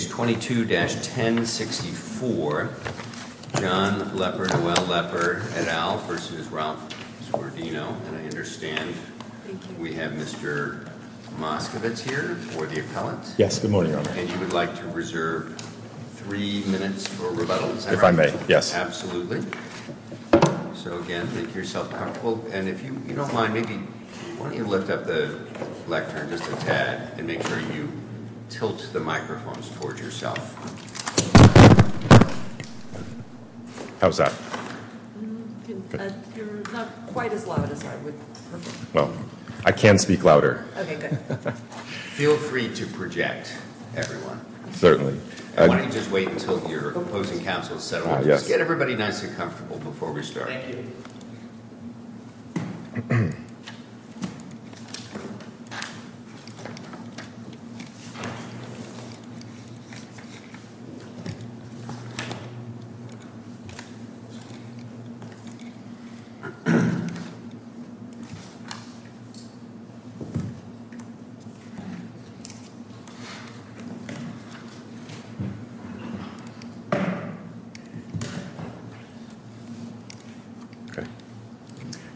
Page 22-1064, John Lepper, Noel Lepper, et al. v. Ralph Zordino And I understand we have Mr. Moskovitz here for the appellant. Yes, good morning, Your Honor. And you would like to reserve three minutes for rebuttal, is that right? If I may, yes. Absolutely. So again, make yourself comfortable. And if you don't mind, maybe why don't you lift up the lectern just a tad and make sure you tilt the microphones towards yourself. How's that? You're not quite as loud as I would prefer. Well, I can speak louder. Okay, good. Feel free to project, everyone. Certainly. And why don't you just wait until your opposing counsel is settled. Just get everybody nice and comfortable before we start. Thank you. Okay.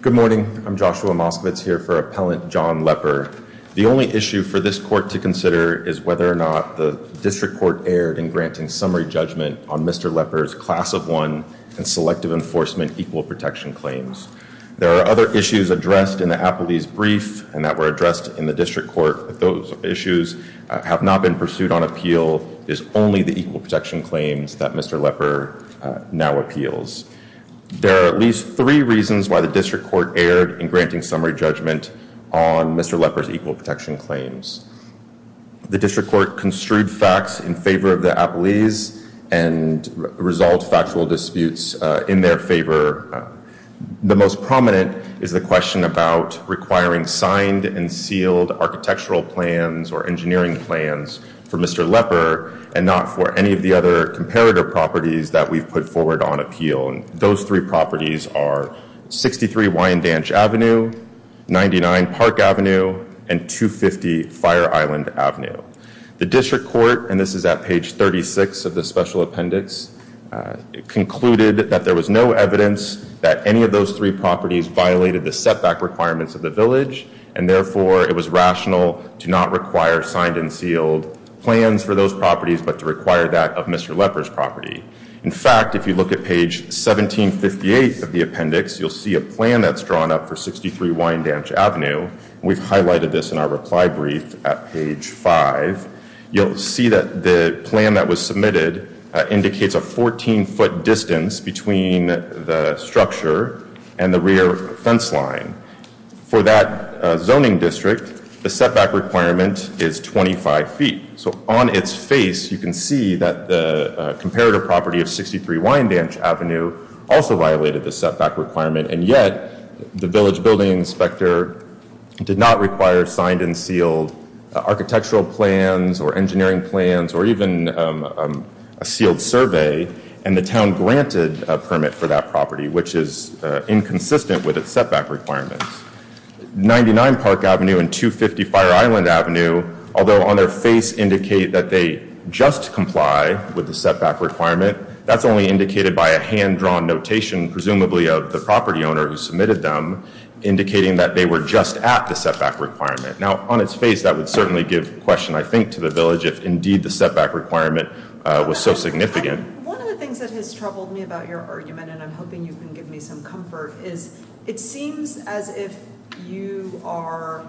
Good morning. I'm Joshua Moskovitz here for Appellant John Lepper. The only issue for this court to consider is whether or not the district court erred in granting summary judgment on Mr. Lepper's Class of 1 and Selective Enforcement Equal Protection claims. There are other issues addressed in the appellee's brief and that were addressed in the district court. If those issues have not been pursued on appeal, it is only the Equal Protection claims that Mr. Lepper now appeals. There are at least three reasons why the district court erred in granting summary judgment on Mr. Lepper's Equal Protection claims. The district court construed facts in favor of the appellees and resolved factual disputes in their favor. The most prominent is the question about requiring signed and sealed architectural plans or engineering plans for Mr. Lepper and not for any of the other comparator properties that we've put forward on appeal. Those three properties are 63 Wyandanch Avenue, 99 Park Avenue, and 250 Fire Island Avenue. The district court, and this is at page 36 of the special appendix, concluded that there was no evidence that any of those three properties violated the setback requirements of the village, and therefore it was rational to not require signed and sealed plans for those properties but to require that of Mr. Lepper's property. In fact, if you look at page 1758 of the appendix, you'll see a plan that's drawn up for 63 Wyandanch Avenue. We've highlighted this in our reply brief at page 5. You'll see that the plan that was submitted indicates a 14-foot distance between the structure and the rear fence line. For that zoning district, the setback requirement is 25 feet. So on its face, you can see that the comparator property of 63 Wyandanch Avenue also violated the setback requirement, and yet the village building inspector did not require signed and sealed architectural plans or engineering plans or even a sealed survey, and the town granted a permit for that property, which is inconsistent with its setback requirements. 99 Park Avenue and 250 Fire Island Avenue, although on their face indicate that they just comply with the setback requirement, that's only indicated by a hand-drawn notation, presumably of the property owner who submitted them, indicating that they were just at the setback requirement. Now, on its face, that would certainly give question, I think, to the village if indeed the setback requirement was so significant. One of the things that has troubled me about your argument, and I'm hoping you can give me some comfort, is it seems as if you are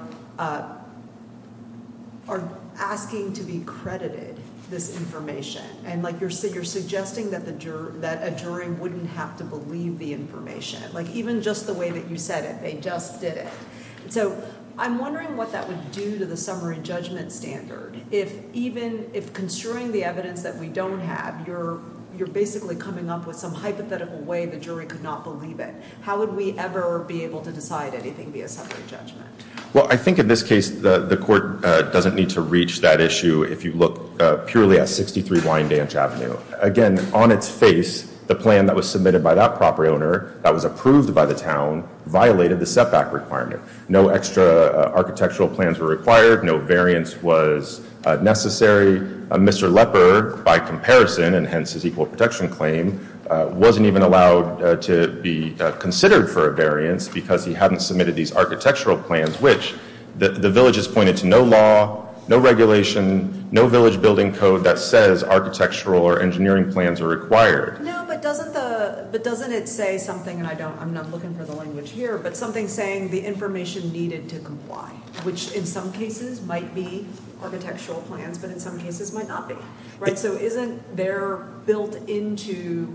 asking to be credited this information, and, like, you're suggesting that a jury wouldn't have to believe the information. Like, even just the way that you said it, they just did it. So I'm wondering what that would do to the summary judgment standard if even if construing the evidence that we don't have, you're basically coming up with some hypothetical way the jury could not believe it. How would we ever be able to decide anything via summary judgment? Well, I think in this case the court doesn't need to reach that issue if you look purely at 63 Wyandanche Avenue. Again, on its face, the plan that was submitted by that property owner that was approved by the town violated the setback requirement. No extra architectural plans were required. No variance was necessary. Mr. Lepper, by comparison, and hence his equal protection claim, wasn't even allowed to be considered for a variance because he hadn't submitted these architectural plans, which the village has pointed to no law, no regulation, no village building code that says architectural or engineering plans are required. No, but doesn't it say something, and I'm not looking for the language here, but something saying the information needed to comply, which in some cases might be architectural plans, but in some cases might not be. So isn't there built into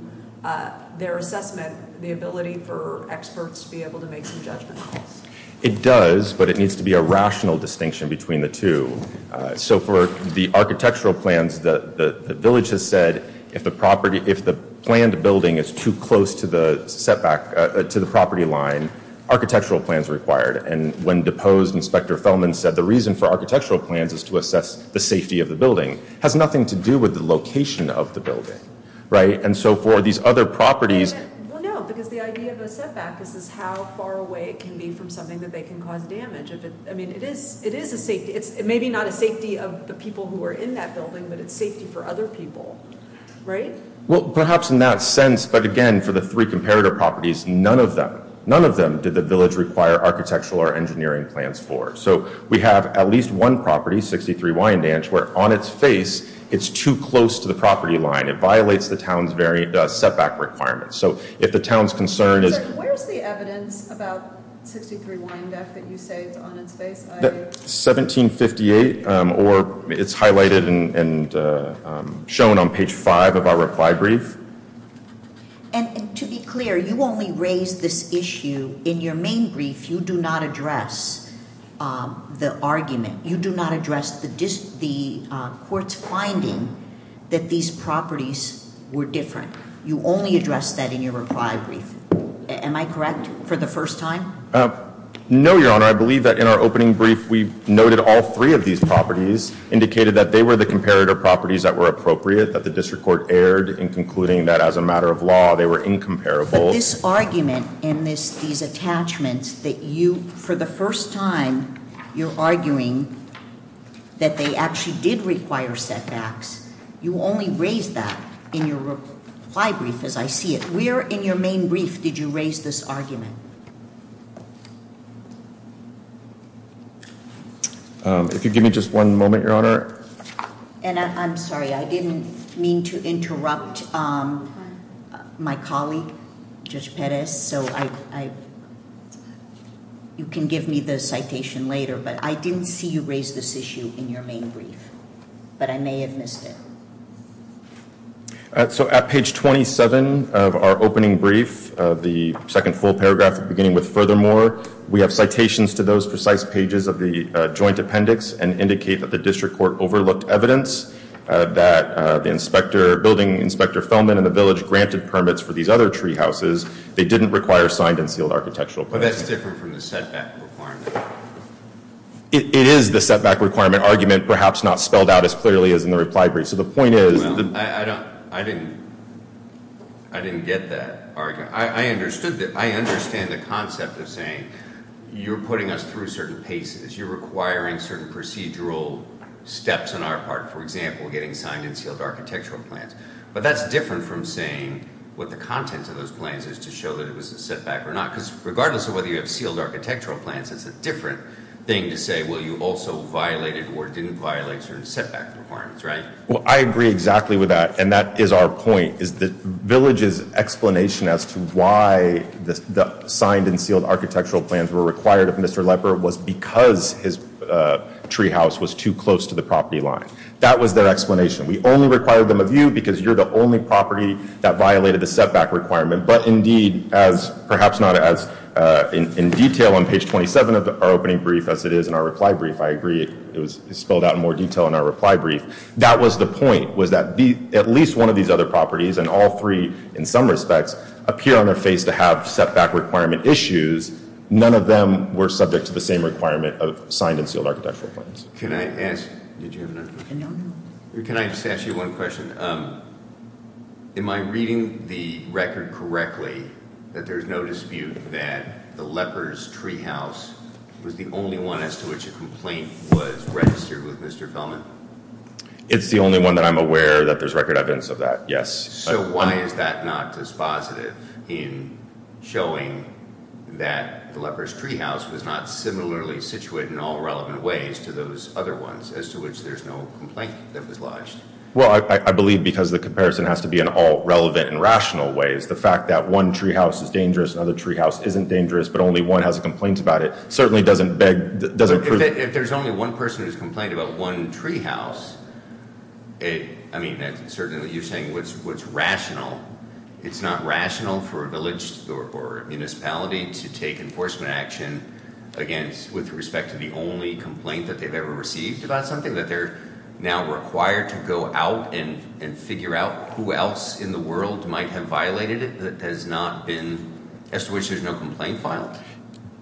their assessment the ability for experts to be able to make some judgment calls? It does, but it needs to be a rational distinction between the two. So for the architectural plans, the village has said if the planned building is too close to the property line, architectural plans are required. And when deposed, Inspector Fellman said the reason for architectural plans is to assess the safety of the building. It has nothing to do with the location of the building, right? And so for these other properties— Well, no, because the idea of a setback is how far away it can be from something that they can cause damage. I mean, it is a safety. It's maybe not a safety of the people who are in that building, but it's safety for other people, right? Well, perhaps in that sense, but again, for the three comparator properties, none of them— none of them did the village require architectural or engineering plans for. So we have at least one property, 63 Wyandanche, where on its face it's too close to the property line. It violates the town's setback requirements. So if the town's concern is— Where's the evidence about 63 Wyandanche that you say is on its face? 1758, or it's highlighted and shown on page 5 of our reply brief. And to be clear, you only raised this issue in your main brief. You do not address the argument. You do not address the court's finding that these properties were different. You only addressed that in your reply brief. Am I correct for the first time? No, Your Honor. I believe that in our opening brief, we noted all three of these properties, indicated that they were the comparator properties that were appropriate, that the district court erred in concluding that as a matter of law, they were incomparable. But this argument and these attachments that you— for the first time, you're arguing that they actually did require setbacks. You only raised that in your reply brief, as I see it. Where in your main brief did you raise this argument? If you give me just one moment, Your Honor. And I'm sorry, I didn't mean to interrupt my colleague, Judge Perez, so I— you can give me the citation later, but I didn't see you raise this issue in your main brief. But I may have missed it. So at page 27 of our opening brief, the second full paragraph, beginning with, Furthermore, we have citations to those precise pages of the joint appendix and indicate that the district court overlooked evidence that the inspector— building inspector Feldman and the village granted permits for these other tree houses. They didn't require signed and sealed architectural permits. But that's different from the setback requirement. It is the setback requirement argument, perhaps not spelled out as clearly as in the reply brief. So the point is— Well, I didn't get that argument. I understood the—I understand the concept of saying you're putting us through certain paces. You're requiring certain procedural steps on our part, for example, getting signed and sealed architectural plans. But that's different from saying what the content of those plans is to show that it was a setback or not. Because regardless of whether you have sealed architectural plans, it's a different thing to say, well, you also violated or didn't violate certain setback requirements, right? Well, I agree exactly with that, and that is our point. The village's explanation as to why the signed and sealed architectural plans were required of Mr. Lepper was because his tree house was too close to the property line. That was their explanation. We only required them of you because you're the only property that violated the setback requirement. But indeed, as perhaps not as in detail on page 27 of our opening brief as it is in our reply brief, I agree it was spelled out in more detail in our reply brief. That was the point, was that at least one of these other properties, and all three in some respects, appear on their face to have setback requirement issues. None of them were subject to the same requirement of signed and sealed architectural plans. Can I ask, did you have another question? No, no. Can I just ask you one question? Am I reading the record correctly that there's no dispute that the Lepper's tree house was the only one as to which a complaint was registered with Mr. Fellman? It's the only one that I'm aware that there's record evidence of that, yes. So why is that not dispositive in showing that the Lepper's tree house was not similarly situated in all relevant ways to those other ones as to which there's no complaint that was lodged? Well, I believe because the comparison has to be in all relevant and rational ways. The fact that one tree house is dangerous, another tree house isn't dangerous, but only one has a complaint about it, certainly doesn't prove it. If there's only one person who's complained about one tree house, I mean, certainly you're saying what's rational. It's not rational for a village or a municipality to take enforcement action with respect to the only complaint that they've ever received about something, that they're now required to go out and figure out who else in the world might have violated it that has not been—as to which there's no complaint filed?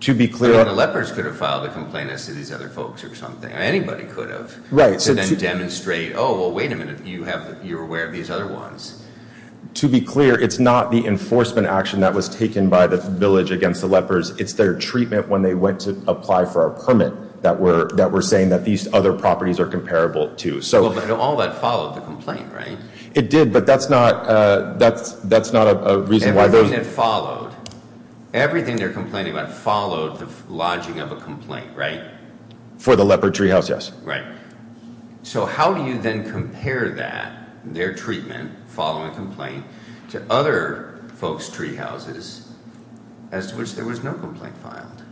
To be clear— I mean, the Lepper's could have filed a complaint as to these other folks or something. Anybody could have. Right. And then demonstrate, oh, well, wait a minute, you're aware of these other ones. To be clear, it's not the enforcement action that was taken by the village against the Lepper's. It's their treatment when they went to apply for a permit that were saying that these other properties are comparable to. Well, but all that followed the complaint, right? It did, but that's not a reason why those— Everything that followed. Everything they're complaining about followed the lodging of a complaint, right? For the Lepper tree house, yes. Right. So how do you then compare that, their treatment following a complaint, to other folks' tree houses as to which there was no complaint filed?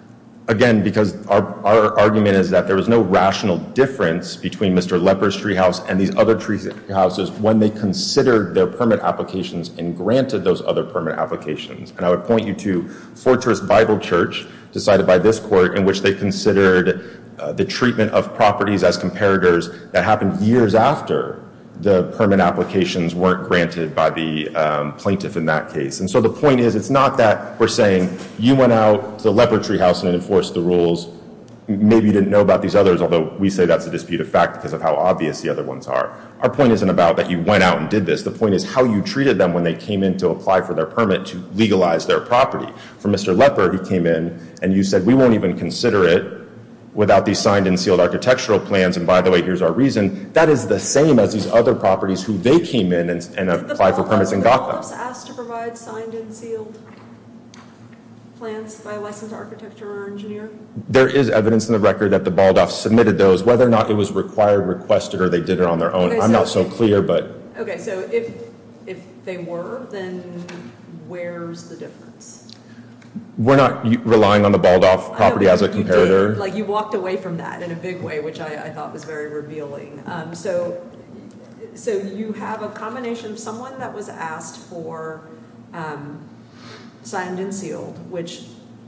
Again, because our argument is that there was no rational difference between Mr. Lepper's tree house and these other tree houses when they considered their permit applications and granted those other permit applications. And I would point you to Fortress Bible Church, decided by this court, in which they considered the treatment of properties as comparators that happened years after the permit applications weren't granted by the plaintiff in that case. And so the point is, it's not that we're saying, you went out to the Lepper tree house and enforced the rules, maybe you didn't know about these others, although we say that's a disputed fact because of how obvious the other ones are. Our point isn't about that you went out and did this. The point is how you treated them when they came in to apply for their permit to legalize their property. For Mr. Lepper, he came in, and you said, we won't even consider it without these signed and sealed architectural plans, and by the way, here's our reason. That is the same as these other properties who they came in and applied for permits and got them. Were the Baldoffs asked to provide signed and sealed plans by a licensed architect or engineer? There is evidence in the record that the Baldoffs submitted those. Whether or not it was required, requested, or they did it on their own, I'm not so clear. Okay, so if they were, then where's the difference? We're not relying on the Baldoff property as a comparator. You walked away from that in a big way, which I thought was very revealing. So you have a combination of someone that was asked for signed and sealed, which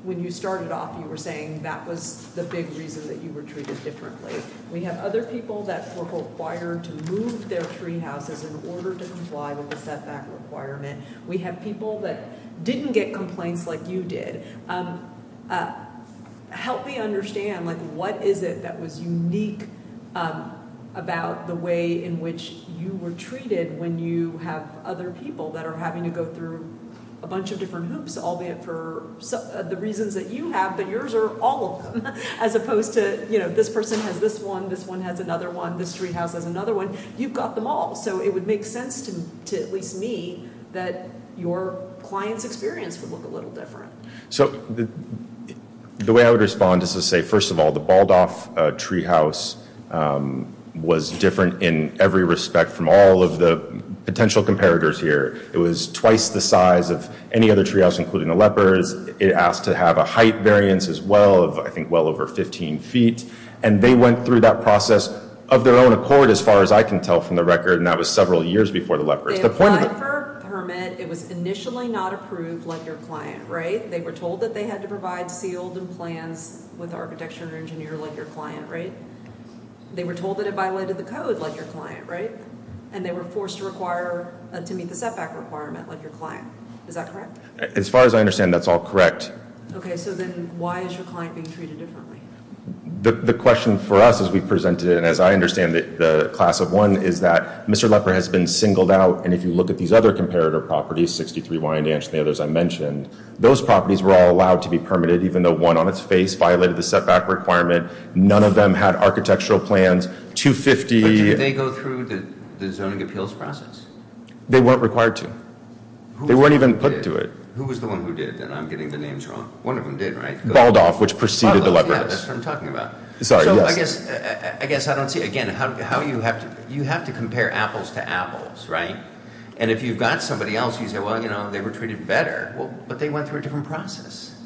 when you started off, you were saying that was the big reason that you were treated differently. We have other people that were required to move their tree houses in order to comply with the setback requirement. We have people that didn't get complaints like you did. Help me understand what is it that was unique about the way in which you were treated when you have other people that are having to go through a bunch of different hoops, albeit for the reasons that you have, but yours are all of them, as opposed to this person has this one, this one has another one, this tree house has another one. You've got them all, so it would make sense to at least me that your client's experience would look a little different. So the way I would respond is to say, first of all, the Baldoff tree house was different in every respect from all of the potential comparators here. It was twice the size of any other tree house, including the leopards. It asked to have a height variance as well of, I think, well over 15 feet. And they went through that process of their own accord, as far as I can tell from the record, and that was several years before the leopards. They applied for a permit. It was initially not approved, like your client, right? They were told that they had to provide sealed and plans with architecture engineer, like your client, right? They were told that it violated the code, like your client, right? And they were forced to meet the setback requirement, like your client. Is that correct? As far as I understand, that's all correct. Okay, so then why is your client being treated differently? The question for us, as we presented it, and as I understand it, the class of one, is that Mr. Lepper has been singled out. And if you look at these other comparator properties, 63 Wyandanche and the others I mentioned, those properties were all allowed to be permitted, even though one on its face violated the setback requirement. None of them had architectural plans, 250. But did they go through the zoning appeals process? They weren't required to. They weren't even put to it. Who was the one who did? And I'm getting the names wrong. One of them did, right? Baldoff, which preceded the Lepper. Baldoff, yeah, that's what I'm talking about. Sorry, yes. So I guess I don't see, again, how you have to, you have to compare apples to apples, right? And if you've got somebody else, you say, well, you know, they were treated better. Well, but they went through a different process.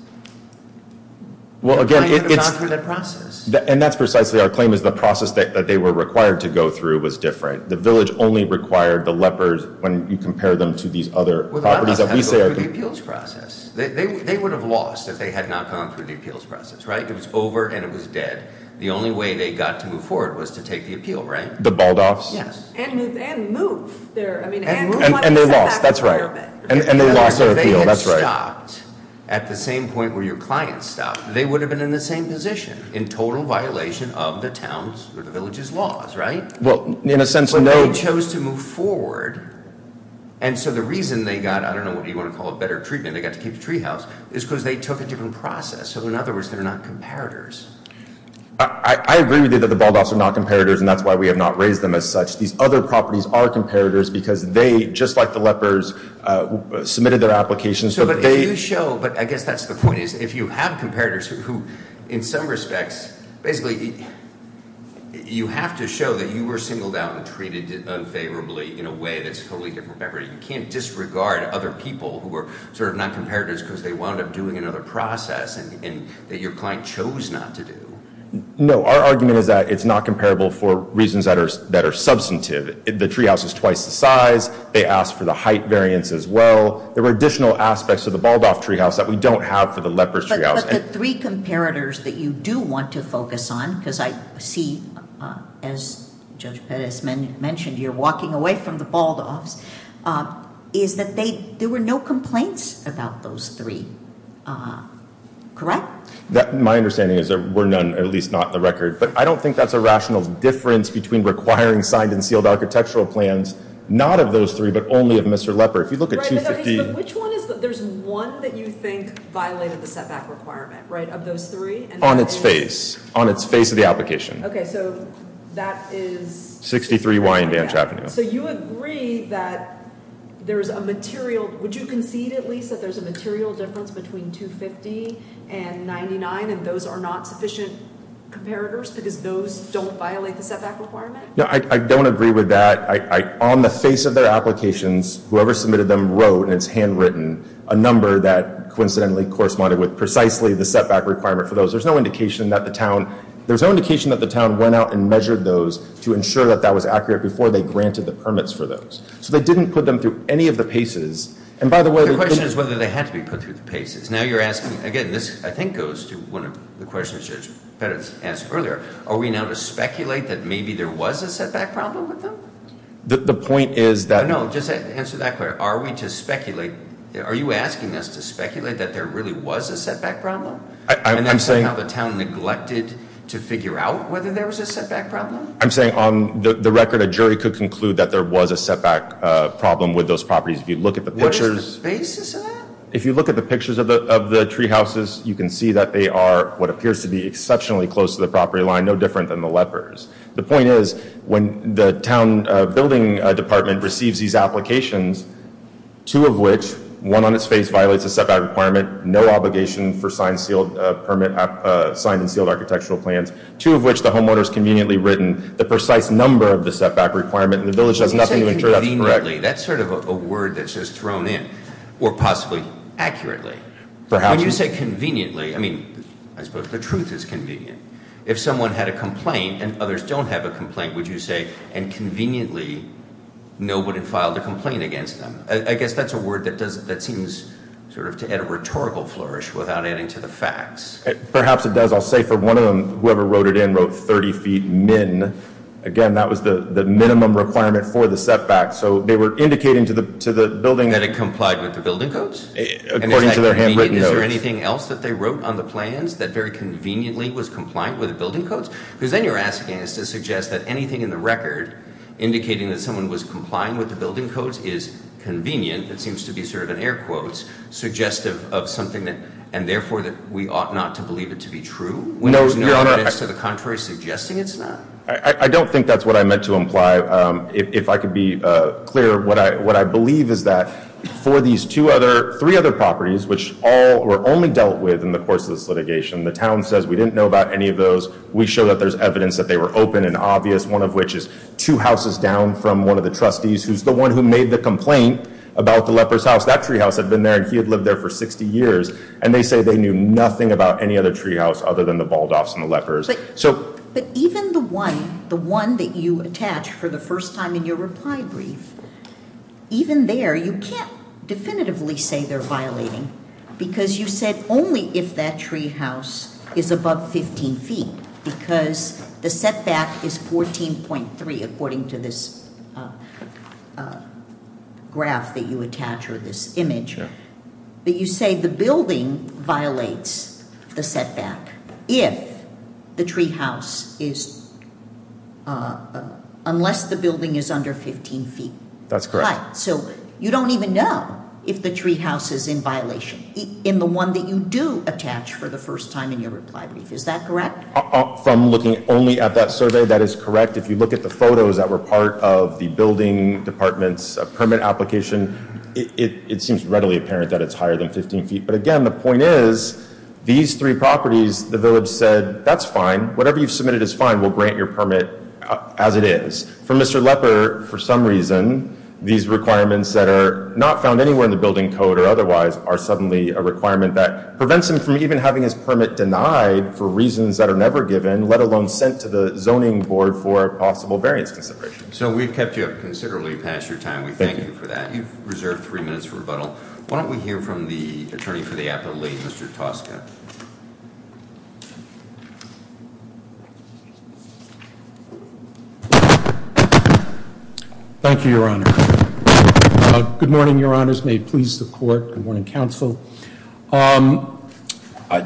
Well, again, it's The client was not through that process. And that's precisely our claim, is the process that they were required to go through was different. The village only required the Leppers when you compare them to these other properties that we say are Well, the Leppers had to go through the appeals process. They would have lost if they had not gone through the appeals process, right? It was over and it was dead. The only way they got to move forward was to take the appeal, right? The Baldoffs? Yes. And move there. And they lost, that's right. And they lost their appeal, that's right. If they had stopped at the same point where your client stopped, they would have been in the same position in total violation of the town's or the village's laws, right? Well, in a sense, no. But they chose to move forward. And so the reason they got, I don't know, what do you want to call it, better treatment, they got to keep the treehouse, is because they took a different process. So, in other words, they're not comparators. I agree with you that the Baldoffs are not comparators and that's why we have not raised them as such. These other properties are comparators because they, just like the Leppers, submitted their applications. But I guess that's the point is if you have comparators who, in some respects, basically you have to show that you were singled out and treated unfavorably in a way that's totally different. You can't disregard other people who are sort of not comparators because they wound up doing another process that your client chose not to do. No, our argument is that it's not comparable for reasons that are substantive. The treehouse is twice the size. They asked for the height variance as well. There were additional aspects to the Baldoff treehouse that we don't have for the Leppers treehouse. But the three comparators that you do want to focus on, because I see, as Judge Pettis mentioned, you're walking away from the Baldoffs, is that there were no complaints about those three. Correct? My understanding is there were none, at least not in the record. But I don't think that's a rational difference between requiring signed and sealed architectural plans, not of those three, but only of Mr. Lepper. But there's one that you think violated the setback requirement, right, of those three? On its face. On its face of the application. Okay, so that is 63 Y in Vantage Avenue. So you agree that there's a material – would you concede at least that there's a material difference between 250 and 99 and those are not sufficient comparators because those don't violate the setback requirement? No, I don't agree with that. On the face of their applications, whoever submitted them wrote in its handwritten a number that coincidentally corresponded with precisely the setback requirement for those. There's no indication that the town went out and measured those to ensure that that was accurate before they granted the permits for those. So they didn't put them through any of the paces. And by the way – The question is whether they had to be put through the paces. Now you're asking – again, this I think goes to one of the questions Judge Pettit asked earlier. Are we now to speculate that maybe there was a setback problem with them? The point is that – No, just answer that question. Are we to speculate – are you asking us to speculate that there really was a setback problem? I'm saying – And that somehow the town neglected to figure out whether there was a setback problem? I'm saying on the record a jury could conclude that there was a setback problem with those properties. If you look at the pictures – What is the basis of that? If you look at the pictures of the treehouses, you can see that they are what appears to be exceptionally close to the property line, no different than the lepers. The point is when the town building department receives these applications, two of which – one on its face violates a setback requirement, no obligation for signed and sealed architectural plans, two of which the homeowners conveniently written the precise number of the setback requirement, and the village does nothing to ensure that's correct. Accurately, that's sort of a word that's just thrown in. Or possibly accurately. When you say conveniently, I mean, I suppose the truth is convenient. If someone had a complaint and others don't have a complaint, would you say, and conveniently nobody filed a complaint against them? I guess that's a word that seems sort of to add a rhetorical flourish without adding to the facts. Perhaps it does. I'll say for one of them, whoever wrote it in wrote 30 feet min. Again, that was the minimum requirement for the setback. So they were indicating to the building – That it complied with the building codes? According to their handwritten notes. And is that convenient? Is there anything else that they wrote on the plans that very conveniently was compliant with the building codes? Because then you're asking us to suggest that anything in the record indicating that someone was complying with the building codes is convenient, it seems to be sort of an air quotes, suggestive of something, and therefore that we ought not to believe it to be true? When there's no evidence to the contrary suggesting it's not? I don't think that's what I meant to imply. If I could be clear, what I believe is that for these three other properties, which were only dealt with in the course of this litigation, the town says we didn't know about any of those. We show that there's evidence that they were open and obvious, one of which is two houses down from one of the trustees, who's the one who made the complaint about the leper's house. That treehouse had been there and he had lived there for 60 years, and they say they knew nothing about any other treehouse other than the Baldoffs and the lepers. But even the one that you attach for the first time in your reply brief, even there you can't definitively say they're violating because you said only if that treehouse is above 15 feet because the setback is 14.3 according to this graph that you attach or this image. But you say the building violates the setback unless the building is under 15 feet. That's correct. So you don't even know if the treehouse is in violation in the one that you do attach for the first time in your reply brief. Is that correct? From looking only at that survey, that is correct. If you look at the photos that were part of the building department's permit application, it seems readily apparent that it's higher than 15 feet. But again, the point is these three properties, the village said, that's fine. Whatever you've submitted is fine. We'll grant your permit as it is. For Mr. Leper, for some reason, these requirements that are not found anywhere in the building code or otherwise are suddenly a requirement that prevents him from even having his permit denied for reasons that are never given, let alone sent to the zoning board for a possible variance consideration. So we've kept you up considerably past your time. We thank you for that. You've reserved three minutes for rebuttal. Why don't we hear from the attorney for the appellate, Mr. Tosca. Thank you, Your Honor. Good morning, Your Honors. May it please the court. Good morning, counsel.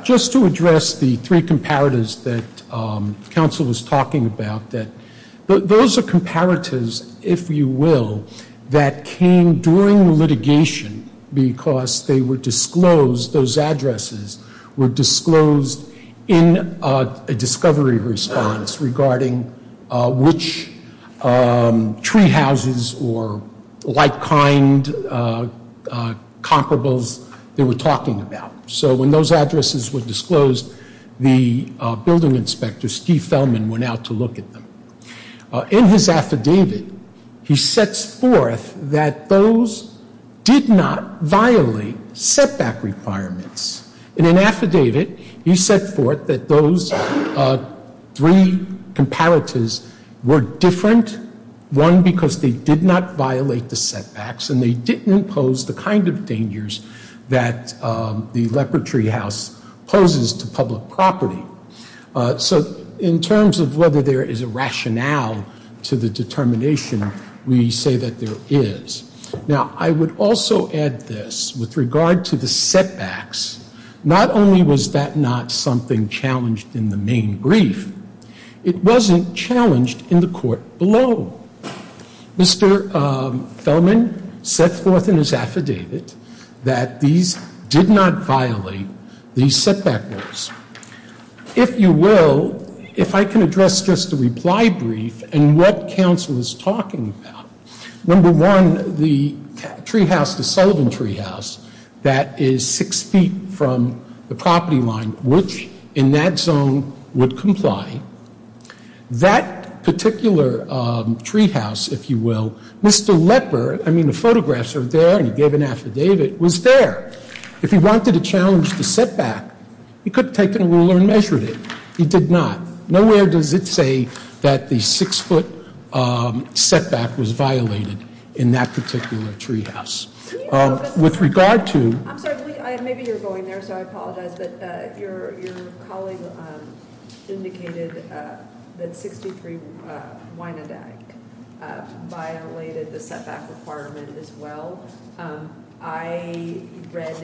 Just to address the three comparatives that counsel was talking about, those are comparatives, if you will, that came during litigation because they were disclosed, those addresses were disclosed in a discovery response regarding which tree houses or like kind comparables they were talking about. So when those addresses were disclosed, the building inspector, Steve Feldman, went out to look at them. In his affidavit, he sets forth that those did not violate setback requirements. In an affidavit, he set forth that those three comparatives were different, one, because they did not violate the setbacks and they didn't impose the kind of dangers that the leopard tree house poses to public property. So in terms of whether there is a rationale to the determination, we say that there is. Now, I would also add this. With regard to the setbacks, not only was that not something challenged in the main brief, it wasn't challenged in the court below. Mr. Feldman set forth in his affidavit that these did not violate the setback rules. If you will, if I can address just the reply brief and what counsel is talking about, number one, the tree house, the Sullivan tree house, that is six feet from the property line, which in that zone would comply. That particular tree house, if you will, Mr. Lepper, I mean the photographs are there, and he gave an affidavit, was there. If he wanted to challenge the setback, he could have taken a ruler and measured it. He did not. Nowhere does it say that the six-foot setback was violated in that particular tree house. With regard to ‑‑ I'm sorry. Maybe you're going there, so I apologize. But your colleague indicated that 63 Wynand Act violated the setback requirement as well. I read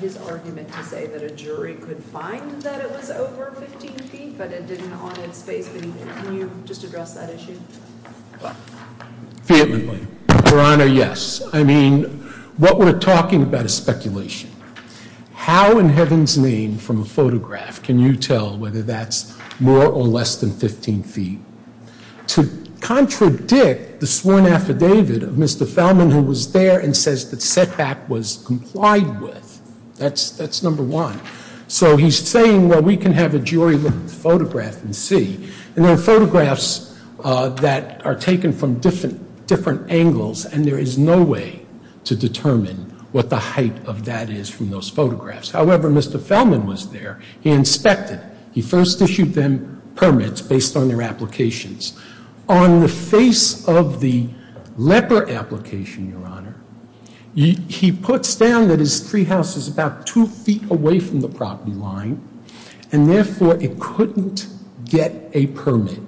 his argument to say that a jury could find that it was over 15 feet, but it didn't on its face beneath it. Can you just address that issue? Vehemently, Your Honor, yes. I mean, what we're talking about is speculation. How in heaven's name from a photograph can you tell whether that's more or less than 15 feet? To contradict the sworn affidavit of Mr. Feldman who was there and says the setback was complied with, that's number one. So he's saying, well, we can have a jury look at the photograph and see. And there are photographs that are taken from different angles, and there is no way to determine what the height of that is from those photographs. However, Mr. Feldman was there. He inspected. He first issued them permits based on their applications. On the face of the leper application, Your Honor, he puts down that his treehouse is about two feet away from the property line, and therefore it couldn't get a permit.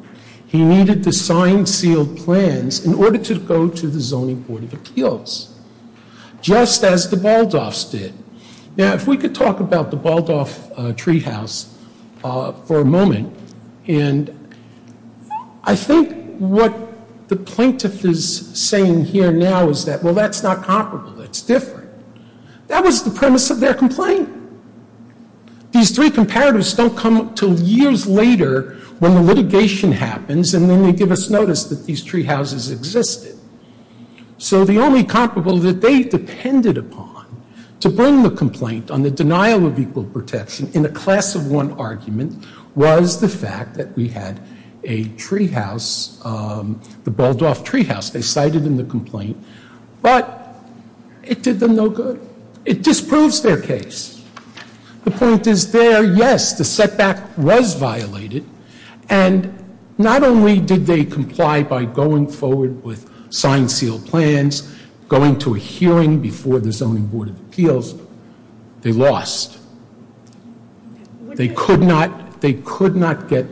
He needed to sign sealed plans in order to go to the zoning board of appeals, just as the Baldoffs did. Now, if we could talk about the Baldoff treehouse for a moment. And I think what the plaintiff is saying here now is that, well, that's not comparable. That's different. That was the premise of their complaint. These three comparatives don't come until years later when the litigation happens and then they give us notice that these treehouses existed. So the only comparable that they depended upon to bring the complaint on the denial of equal protection in a class of one argument was the fact that we had a treehouse, the Baldoff treehouse. They cited in the complaint, but it did them no good. It disproves their case. The point is there, yes, the setback was violated, and not only did they comply by going forward with signed sealed plans, going to a hearing before the zoning board of appeals, they lost. They could not get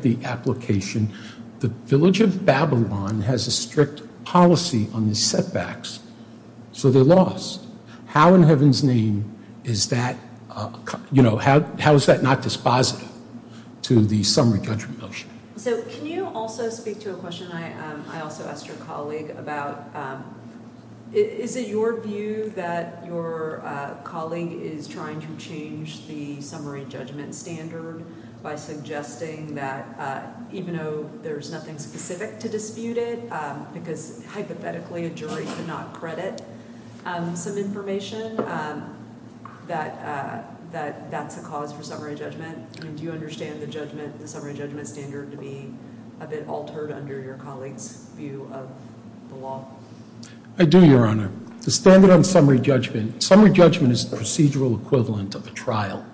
the application. The village of Babylon has a strict policy on the setbacks, so they lost. How in heaven's name is that, you know, how is that not dispositive to the summary judgment motion? So can you also speak to a question I also asked your colleague about, is it your view that your colleague is trying to change the summary judgment standard by suggesting that, even though there's nothing specific to dispute it because hypothetically a jury could not credit, some information that that's a cause for summary judgment? Do you understand the summary judgment standard to be a bit altered under your colleague's view of the law? I do, Your Honor. The standard on summary judgment, summary judgment is the procedural equivalent of a trial.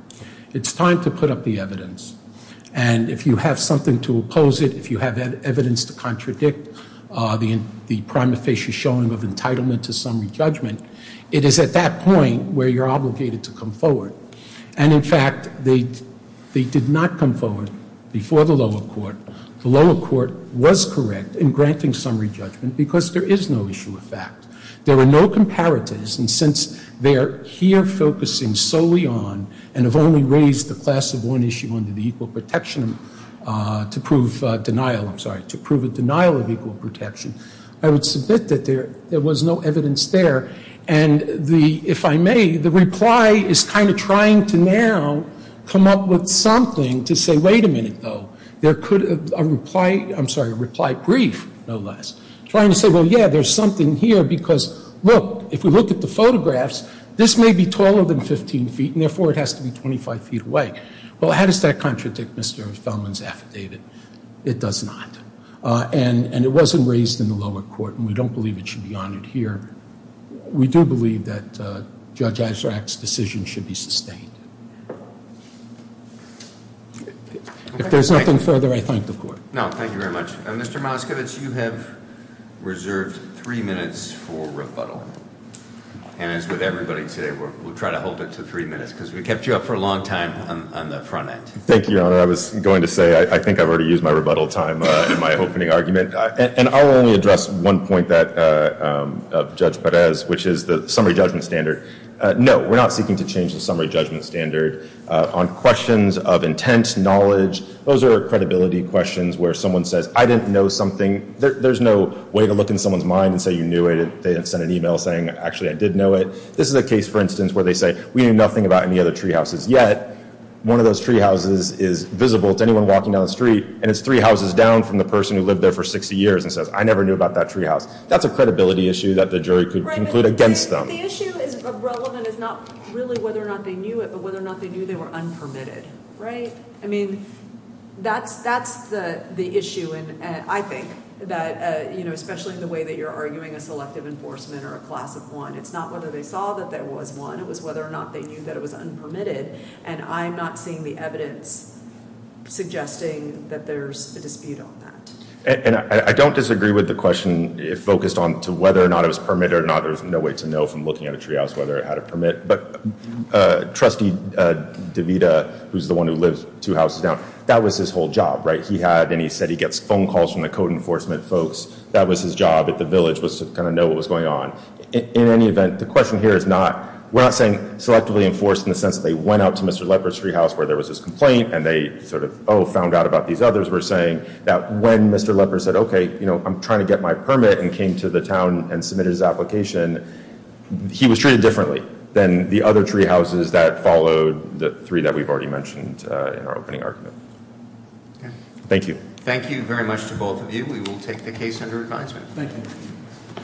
It's time to put up the evidence, and if you have something to oppose it, if you have evidence to contradict the prima facie showing of entitlement to summary judgment, it is at that point where you're obligated to come forward. And in fact, they did not come forward before the lower court. The lower court was correct in granting summary judgment because there is no issue of fact. There were no comparatives, and since they are here focusing solely on, and have only raised the class of one issue under the equal protection to prove denial, I'm sorry, to prove a denial of equal protection, I would submit that there was no evidence there. And the, if I may, the reply is kind of trying to now come up with something to say, wait a minute, though. There could, a reply, I'm sorry, a reply brief, no less, trying to say, well, yeah, there's something here because, look, if we look at the photographs, this may be taller than 15 feet, and therefore, it has to be 25 feet away. Well, how does that contradict Mr. Feldman's affidavit? It does not. And it wasn't raised in the lower court, and we don't believe it should be honored here. We do believe that Judge Azarak's decision should be sustained. If there's nothing further, I thank the court. No, thank you very much. Mr. Moskowitz, you have reserved three minutes for rebuttal, and as with everybody today, we'll try to hold it to three minutes because we kept you up for a long time on the front end. Thank you, Your Honor. I was going to say I think I've already used my rebuttal time in my opening argument, and I'll only address one point of Judge Perez, which is the summary judgment standard. No, we're not seeking to change the summary judgment standard on questions of intent, knowledge. Those are credibility questions where someone says, I didn't know something. There's no way to look in someone's mind and say you knew it. They didn't send an email saying, actually, I did know it. This is a case, for instance, where they say, we knew nothing about any other tree houses yet. One of those tree houses is visible to anyone walking down the street, and it's three houses down from the person who lived there for 60 years and says, I never knew about that tree house. That's a credibility issue that the jury could conclude against them. The issue is relevant is not really whether or not they knew it, but whether or not they knew they were unpermitted. I mean, that's the issue. And I think that, especially in the way that you're arguing a selective enforcement or a class of one, it's not whether they saw that there was one. It was whether or not they knew that it was unpermitted. And I'm not seeing the evidence suggesting that there's a dispute on that. And I don't disagree with the question focused on whether or not it was permitted or not. There's no way to know from looking at a tree house whether it had a permit. But Trustee DeVita, who's the one who lives two houses down, that was his whole job, right? He had, and he said he gets phone calls from the code enforcement folks. That was his job at the village was to kind of know what was going on. In any event, the question here is not, we're not saying selectively enforced in the sense that they went out to Mr. Leper's tree house where there was this complaint and they sort of, oh, found out about these others. We're saying that when Mr. Leper said, OK, you know, I'm trying to get my permit and came to the town and submitted his application. He was treated differently than the other tree houses that followed the three that we've already mentioned in our opening argument. Thank you. Thank you very much to both of you. We will take the case under advisement. Thank you.